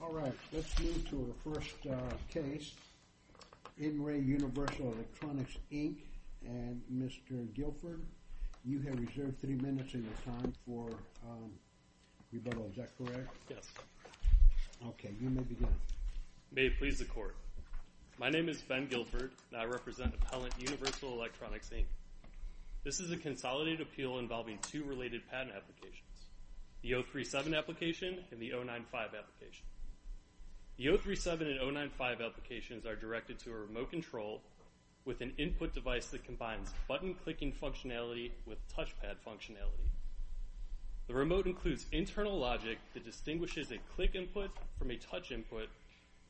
All right, let's move to our first case. In Re Universal Electronics, Inc., and Mr. Guilford, you have reserved three minutes in your time for rebuttal. Is that correct? Yes. OK, you may begin. May it please the court. My name is Ben Guilford, and I represent Appellant Universal Electronics, Inc. This is a consolidated appeal involving two related patent applications, the 037 application and the 095 application. The 037 and 095 applications are directed to a remote control with an input device that combines button-clicking functionality with touchpad functionality. The remote includes internal logic that distinguishes a click input from a touch input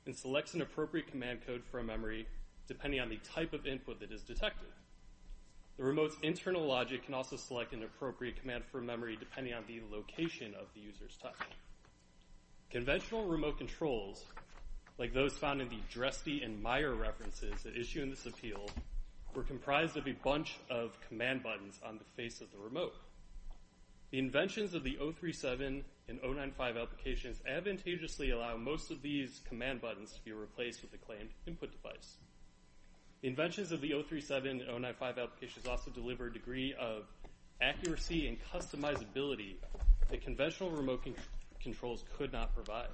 and selects an appropriate command code for a memory depending on the type of input that is detected. The remote's internal logic can also select an appropriate command for a memory depending on the location of the user's touch. Conventional remote controls, like those found in the Dresty and Meyer references that issue in this appeal, were comprised of a bunch of command buttons on the face of the remote. The inventions of the 037 and 095 applications advantageously allow most of these command buttons to be replaced with a claimed input device. Inventions of the 037 and 095 applications also deliver a degree of accuracy and customizability that conventional remote controls could not provide.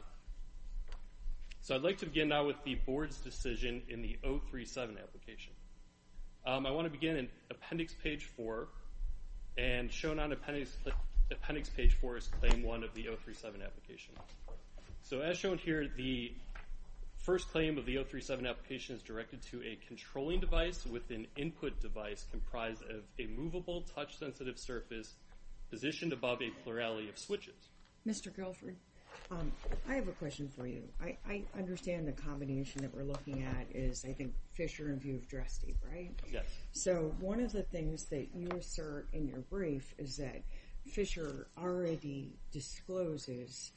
So I'd like to begin now with the board's decision in the 037 application. I want to begin in appendix page 4. And shown on appendix page 4 is claim 1 of the 037 application. So as shown here, the first claim of the 037 application is directed to a controlling device with an input device comprised of a movable touch-sensitive surface positioned above a plurality of switches. Mr. Guilford, I have a question for you. I understand the combination that we're looking at is, I think, Fisher and View of Dresty, right? Yes. So one of the things that you assert in your brief is that Fisher already discloses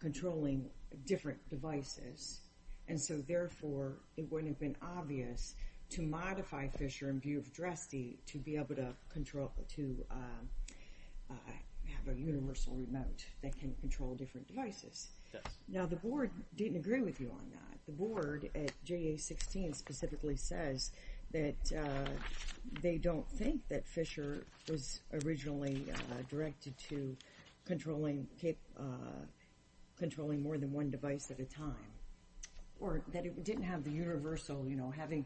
controlling different devices. And so therefore, it wouldn't have been obvious to modify Fisher and View of Dresty to be able to have a universal remote that can control different devices. Now, the board didn't agree with you on that. The board at JA-16 specifically says that they don't think that Fisher was originally directed to controlling more than one device at a time, or that it didn't have the universal, having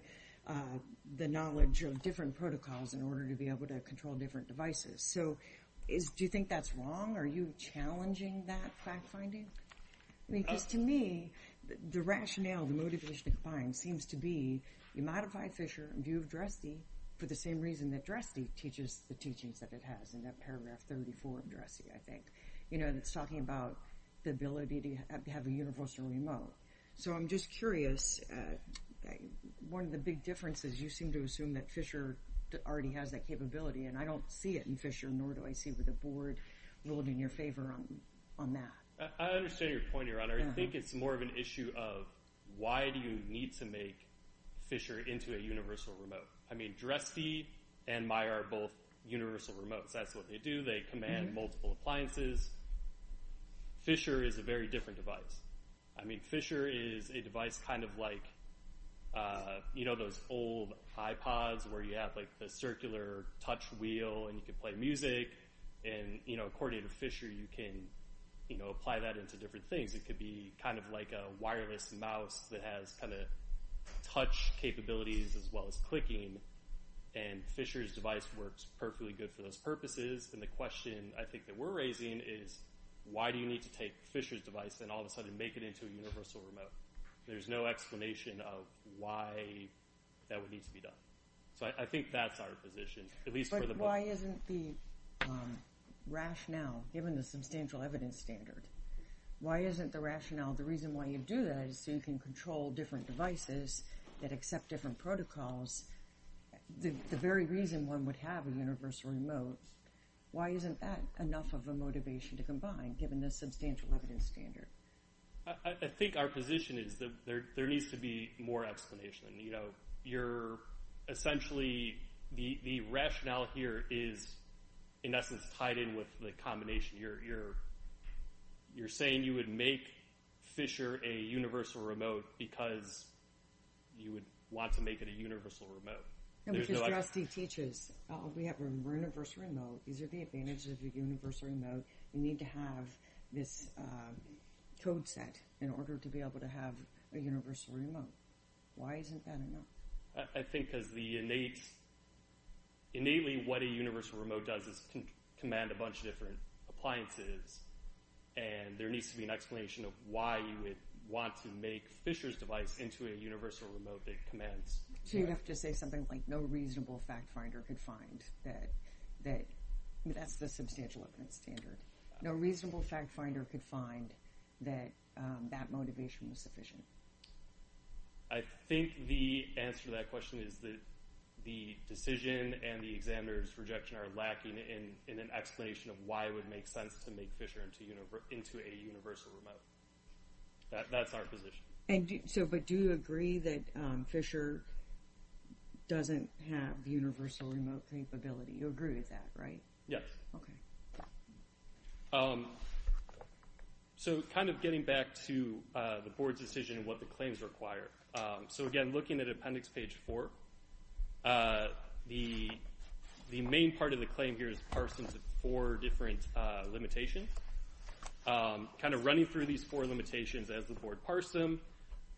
the knowledge of different protocols in order to be able to control different devices. So do you think that's wrong? Are you challenging that fact-finding? Because to me, the rationale, the motivation to combine seems to be, you modify Fisher and View of Dresty for the same reason that Dresty teaches the teachings that it has in that paragraph 34 of Dresty, I think. It's talking about the ability to have a universal remote. So I'm just curious, one of the big differences, you seem to assume that Fisher already has that capability. And I don't see it in Fisher, nor do I see where the board ruled in your favor on that. I understand your point, Your Honor. I think it's more of an issue of, why do you need to make Fisher into a universal remote? I mean, Dresty and Meijer are both universal remotes. That's what they do. They command multiple appliances. Fisher is a very different device. Fisher is a device kind of like those old iPods, where you have the circular touch wheel, and you can play music. And according to Fisher, you can apply that into different things. It could be kind of like a wireless mouse that has touch capabilities, as well as clicking. And Fisher's device works perfectly good for those purposes. And the question, I think, that we're raising is, why do you need to take Fisher's device, and all of a sudden make it into a universal remote? There's no explanation of why that would need to be done. So I think that's our position, at least for the board. But why isn't the rationale, given the substantial evidence standard, why isn't the rationale, the reason why you do that is so you can control different devices that accept different protocols, the very reason one would have a universal remote, why isn't that enough of a motivation to combine, given the substantial evidence standard? I think our position is that there needs to be more explanation. Essentially, the rationale here is, in essence, tied in with the combination. You're saying you would make Fisher a universal remote because you would want to make it a universal remote. No, because Justice teaches, we have a universal remote. These are the advantages of a universal remote. You need to have this code set in order to be able to have a universal remote. Why isn't that enough? I think, innately, what a universal remote does is command a bunch of different appliances. And there needs to be an explanation of why you would want to make Fisher's device into a universal remote that commands. So you'd have to say something like, no reasonable fact finder could find that. That's the substantial evidence standard. No reasonable fact finder could find that that motivation was sufficient. I think the answer to that question is that the decision and the examiner's rejection are lacking in an explanation of why it would make sense to make Fisher into a universal remote. That's our position. But do you agree that Fisher doesn't have universal remote capability? You agree with that, right? Yes. OK. So kind of getting back to the board's decision and what the claims require. So again, looking at appendix page four, the main part of the claim here is parsing the four different limitations. Kind of running through these four limitations as the board parsed them.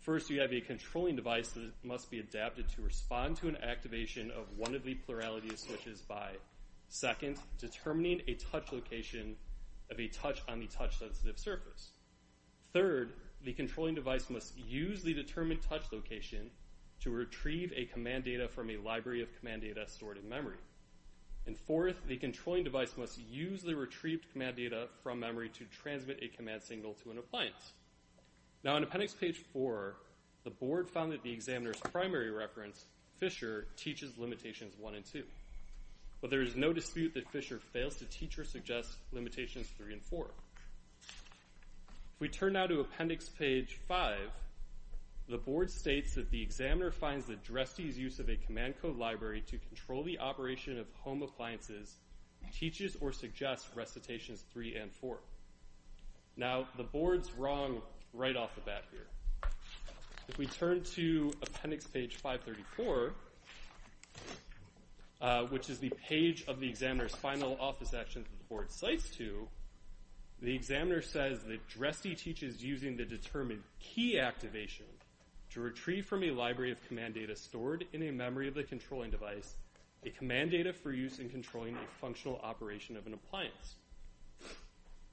First, you have a controlling device that must be adapted to respond to an activation of one of the plurality of switches by, second, determining a touch location of a touch on the touch-sensitive surface. Third, the controlling device must use the determined touch location to retrieve a command data from a library of command data stored in memory. And fourth, the controlling device must use the retrieved command data from memory to transmit a command signal to an appliance. Now in appendix page four, the board found that the examiner's primary reference, Fisher, teaches limitations one and two. But there is no dispute that Fisher fails to teach or suggest limitations three and four. If we turn now to appendix page five, the board states that the examiner finds that Dresde's use of a command code library to control the operation of home appliances teaches or suggests recitations three and four. Now the board's wrong right off the bat here. If we turn to appendix page 534, which is the page of the examiner's final office action that the board cites to, the examiner says that Dresde teaches using the determined key activation to retrieve from a library of command data stored in a memory of the controlling device a command data for use in controlling a functional operation of an appliance.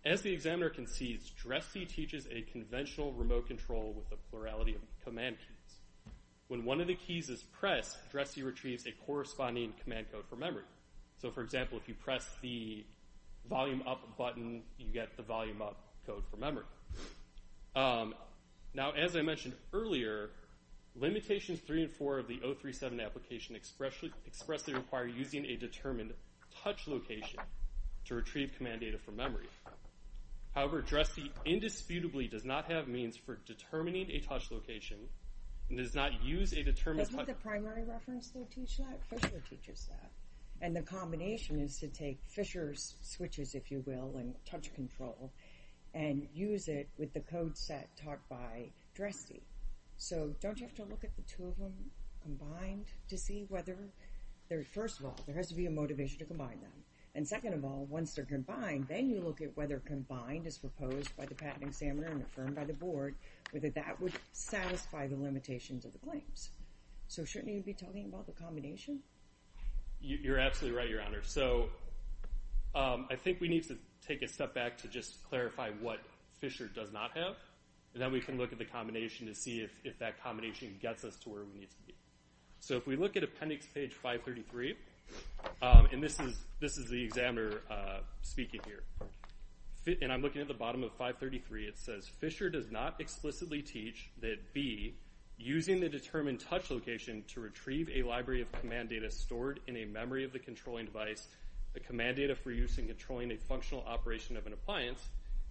As the examiner concedes, Dresde teaches a conventional remote control with a plurality of command keys. When one of the keys is pressed, Dresde retrieves a corresponding command code for memory. So for example, if you press the volume up button, you get the volume up code for memory. Now as I mentioned earlier, limitations three and four of the 037 application expressly require using a determined touch location to retrieve command data from memory. However, Dresde indisputably does not have means for determining a touch location and does not use a determined touch location. Isn't the primary reference they teach that? Fisher teaches that. And the combination is to take Fisher's switches, if you will, and touch control and use it with the code set taught by Dresde. So don't you have to look at the two of them combined to see whether they're, first of all, there has to be a motivation to combine them. And second of all, once they're combined, then you look at whether combined is proposed by the patent examiner and affirmed by the board, whether that would satisfy the limitations of the claims. So shouldn't you be talking about the combination? You're absolutely right, Your Honor. So I think we need to take a step back to just clarify what Fisher does not have. And then we can look at the combination to see if that combination gets us to where we need to be. So if we look at appendix page 533, and this is the examiner speaking here, and I'm looking at the bottom of 533, it says Fisher does not explicitly teach that B, using the determined touch location to retrieve a library of command data stored in a memory of the controlling device, the command data for use in controlling a functional operation of an appliance,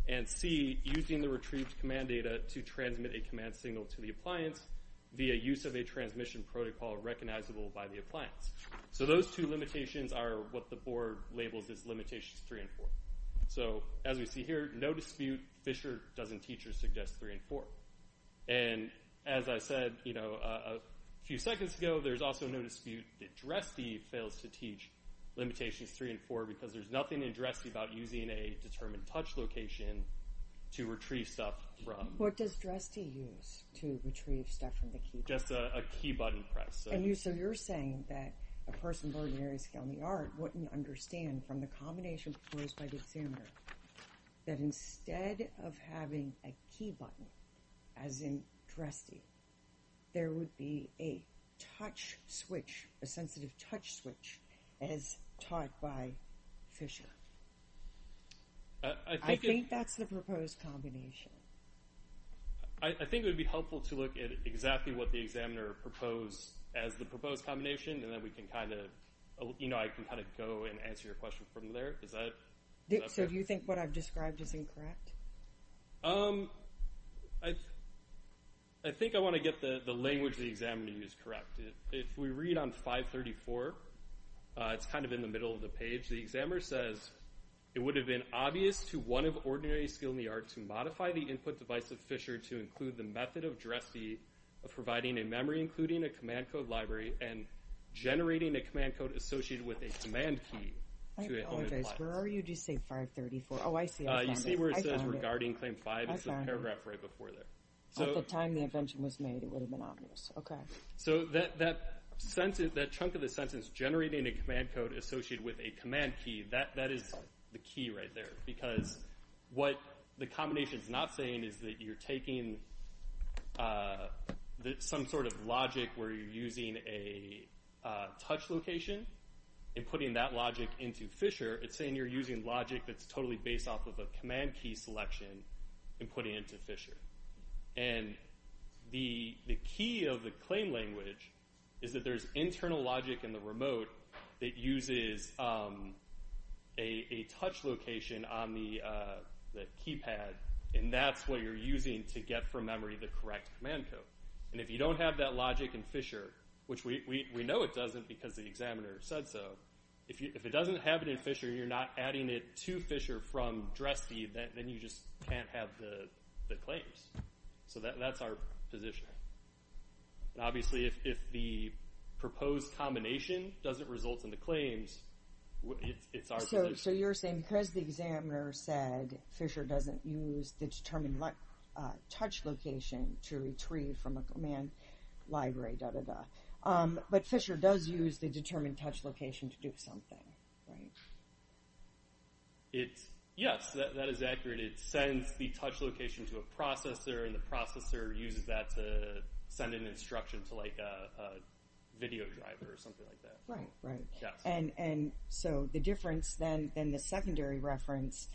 and C, using the retrieved command data to transmit a command signal to the appliance via use of a transmission protocol recognizable by the appliance. So those two limitations are what the board labels as limitations three and four. So as we see here, no dispute, Fisher doesn't teach or suggest three and four. And as I said a few seconds ago, there's also no dispute that Dresty fails to teach limitations three and four because there's nothing in Dresty about using a determined touch location to retrieve stuff from. What does Dresty use to retrieve stuff from the key? Just a key button press. So you're saying that a person with ordinary skill in the art wouldn't understand from the combination proposed by the examiner that instead of having a key button, as in Dresty, there would be a touch switch, a sensitive touch switch, as taught by Fisher. I think that's the proposed combination. I think it would be helpful to look at exactly what the examiner proposed as the proposed combination, and then we can kind of, you know, I can kind of go and answer your question from there. Is that? So do you think what I've described is incorrect? I think I want to get the language the examiner used correct. If we read on 534, it's kind of in the middle of the page. The examiner says, it would have been obvious to one of ordinary skill in the art to modify the input device of Fisher to include the method of Dresty of providing a memory, including a command code library, and generating a command code associated with a command key. I apologize, where are you to say 534? Oh, I see, I found it. You see where it says regarding claim five? I found it. It's the paragraph right before there. At the time the invention was made, it would have been obvious, okay. So that chunk of the sentence, generating a command code associated with a command key, that is the key right there, because what the combination's not saying is that you're taking some sort of logic where you're using a touch location and putting that logic into Fisher. It's saying you're using logic that's totally based off of a command key selection and putting it into Fisher. And the key of the claim language is that there's internal logic in the remote that uses a touch location on the keypad, and that's what you're using to get from memory the correct command code. And if you don't have that logic in Fisher, which we know it doesn't because the examiner said so, if it doesn't have it in Fisher, you're not adding it to Fisher from DRESD, then you just can't have the claims. So that's our position. And obviously if the proposed combination doesn't result in the claims, it's our position. So you're saying because the examiner said use the determined touch location to retrieve from a command library, da-da-da, but Fisher does use the determined touch location to do something, right? Yes, that is accurate. It sends the touch location to a processor, and the processor uses that to send an instruction to a video driver or something like that. Right, right. Yeah. So the difference then, then the secondary reference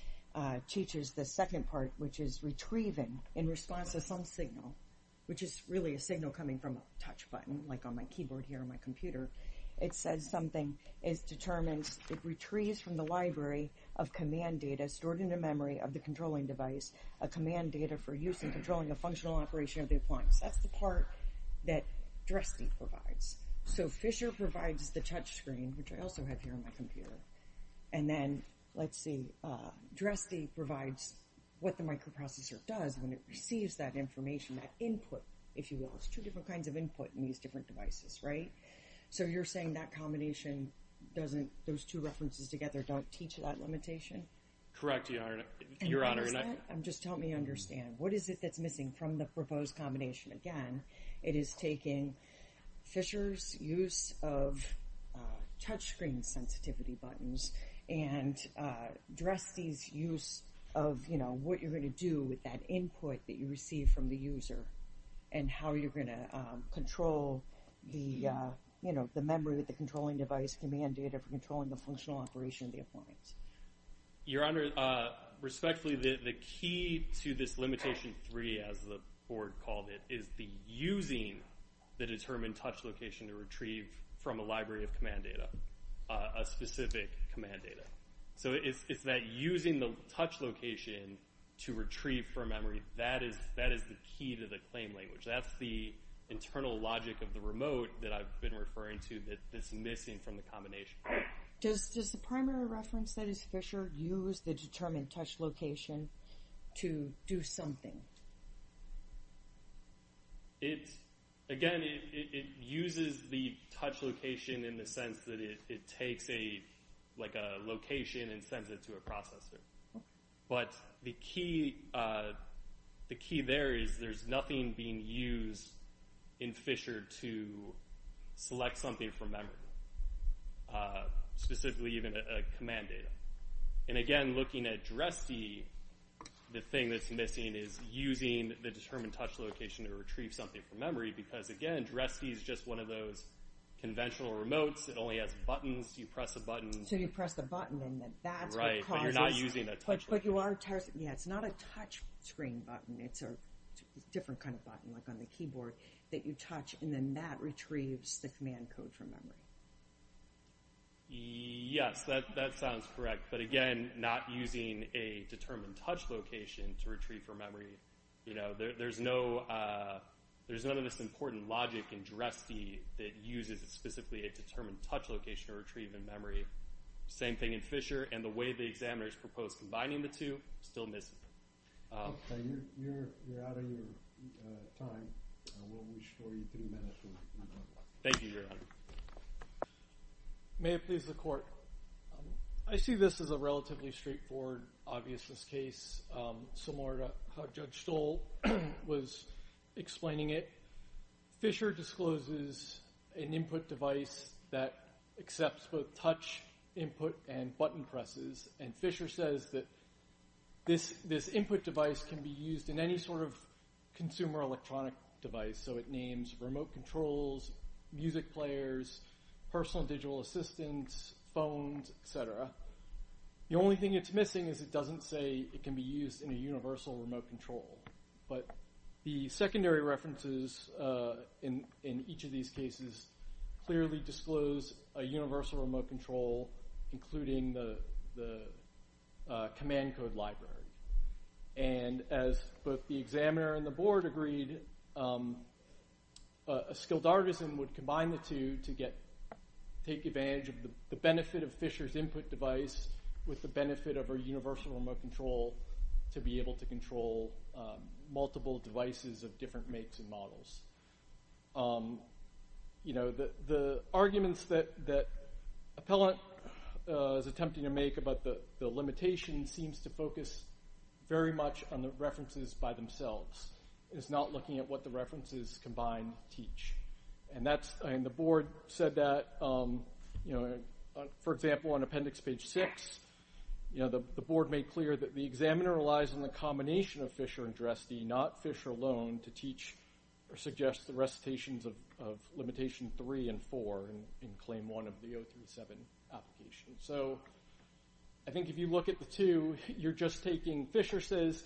teaches the second part, which is retrieving in response to some signal, which is really a signal coming from a touch button, like on my keyboard here on my computer. It says something is determined, it retrieves from the library of command data stored in the memory of the controlling device, a command data for use in controlling a functional operation of the appliance. That's the part that DRESD provides. So Fisher provides the touch screen, which I also have here on my computer, and then, let's see, DRESD provides what the microprocessor does when it receives that information, that input, if you will. It's two different kinds of input in these different devices, right? So you're saying that combination doesn't, those two references together don't teach that limitation? Correct, Your Honor. And what is that? Just help me understand. What is it that's missing from the proposed combination? Again, it is taking Fisher's use of touch screen sensitivity buttons and DRESD's use of what you're gonna do with that input that you receive from the user and how you're gonna control the memory with the controlling device, command data for controlling the functional operation of the appliance. Your Honor, respectfully, the key to this limitation three, as the Board called it, is the using the determined touch location to retrieve from a library of command data, a specific command data. So it's that using the touch location to retrieve from memory, that is the key to the claim language. That's the internal logic of the remote that I've been referring to that's missing from the combination. Does the primary reference that is Fisher use the determined touch location to do something? It's, again, it uses the touch location in the sense that it takes a, like a location and sends it to a processor. But the key there is there's nothing being used in Fisher to select something from memory, specifically even a command data. And again, looking at DRESD, the thing that's missing is using the determined touch location to retrieve something from memory. Because again, DRESD is just one of those conventional remotes, it only has buttons. You press a button. So you press the button and then that's what causes. Right, but you're not using that touch location. But you are, yeah, it's not a touch screen button. It's a different kind of button, like on the keyboard, that you touch and then that retrieves the command code from memory. Yes, that sounds correct. But again, not using a determined touch location to retrieve from memory. You know, there's none of this important logic in DRESD that uses specifically a determined touch location to retrieve in memory. Same thing in Fisher. And the way the examiners propose combining the two, still missing. Okay, you're out of your time. We'll restore you three minutes. Thank you, Your Honor. May it please the court. I see this as a relatively straightforward obviousness case. Similar to how Judge Stoll was explaining it. Fisher discloses an input device that accepts both touch input and button presses. And Fisher says that this input device can be used in any sort of consumer electronic device. So it names remote controls, music players, personal digital assistants, phones, et cetera. The only thing it's missing is it doesn't say it can be used in a universal remote control. But the secondary references in each of these cases clearly disclose a universal remote control, including the command code library. And as both the examiner and the board agreed, a skilled artisan would combine the two to take advantage of the benefit of Fisher's input device with the benefit of a universal remote control to be able to control multiple devices of different makes and models. The arguments that Appellant is attempting to make about the limitation seems to focus very much on the references by themselves. It's not looking at what the references combine teach. And the board said that, for example, on appendix page six, the board made clear that the examiner relies on the combination of Fisher and Dresde, not Fisher alone, to teach or suggest the recitations of limitation three and four in claim one of the 037 application. So I think if you look at the two, you're just taking, Fisher says,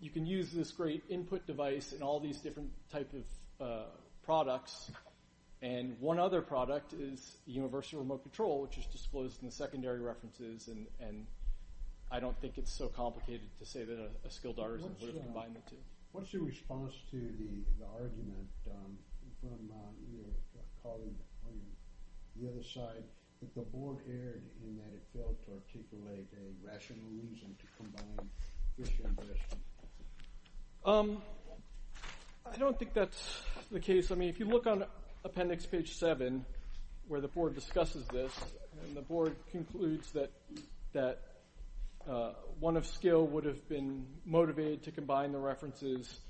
you can use this great input device and all these different type of products. And one other product is universal remote control, which is disclosed in the secondary references. And I don't think it's so complicated to say that a skilled artisan would have combined the two. What's your response to the argument from your colleague on the other side, that the board erred in that it failed to articulate a rational reason to combine Fisher and Dresde? I don't think that's the case. I mean, if you look on appendix page seven, where the board discusses this, and the board concludes that one of skill would have been motivated to combine the references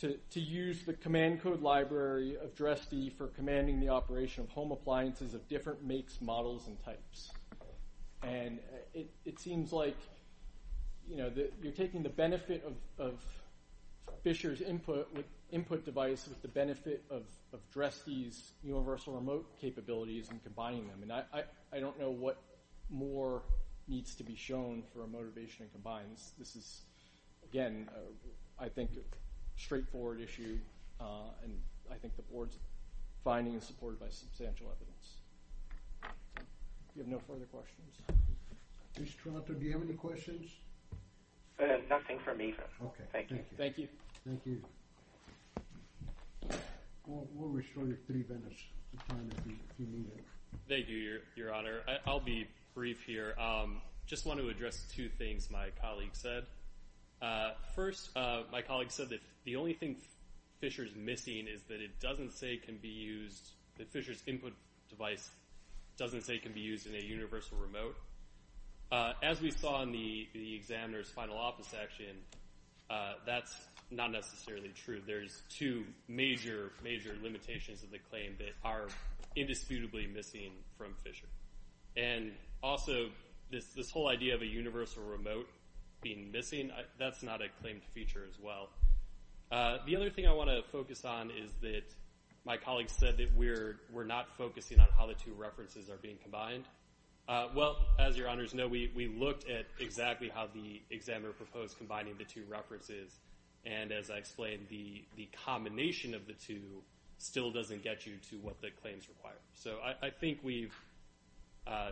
to use the command code library of Dresde for commanding the operation of home appliances of different makes, models, and types. And it seems like you're taking the benefit of Fisher's input device with the benefit of Dresde's universal remote capabilities and combining them. And I don't know what more needs to be shown for a motivation and combines. This is, again, I think, a straightforward issue. And I think the board's finding is supported by substantial evidence. You have no further questions? Mr. Trotter, do you have any questions? Nothing for me, sir. Okay, thank you. Thank you. Thank you. We'll restore your three minutes of time if you need it. Thank you, your honor. I'll be brief here. Just want to address two things my colleague said. First, my colleague said that the only thing Fisher's missing is that it doesn't say can be used, that Fisher's input device doesn't say can be used in a universal remote. So as we saw in the examiner's final office action, that's not necessarily true. There's two major, major limitations of the claim that are indisputably missing from Fisher. And also, this whole idea of a universal remote being missing, that's not a claimed feature as well. The other thing I want to focus on is that my colleague said that we're not focusing on how the two references are being combined. Well, as your honors know, we looked at exactly how the examiner proposed combining the two references. And as I explained, the combination of the two still doesn't get you to what the claims require. So I think we've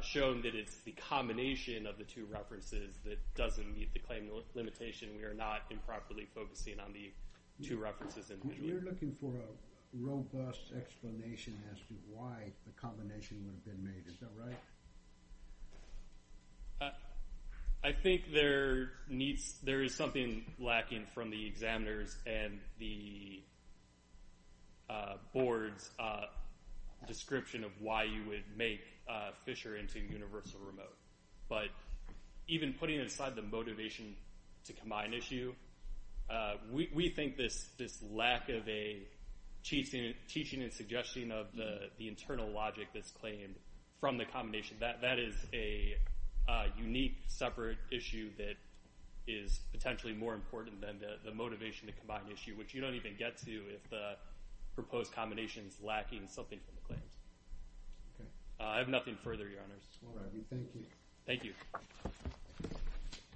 shown that it's the combination of the two references that doesn't meet the claim limitation. We are not improperly focusing on the two references individually. We're looking for a robust explanation as to why the combination would have been made. Is that right? I think there is something lacking from the examiner's and the board's description of why you would make Fisher into universal remote. But even putting aside the motivation to combine issue, we think this lack of a teaching and suggestion of the internal logic that's claimed from the combination, that is a unique separate issue that is potentially more important than the motivation to combine issue, which you don't even get to if the proposed combination is lacking something from the claims. I have nothing further, your honors. All right, we thank you. Thank you.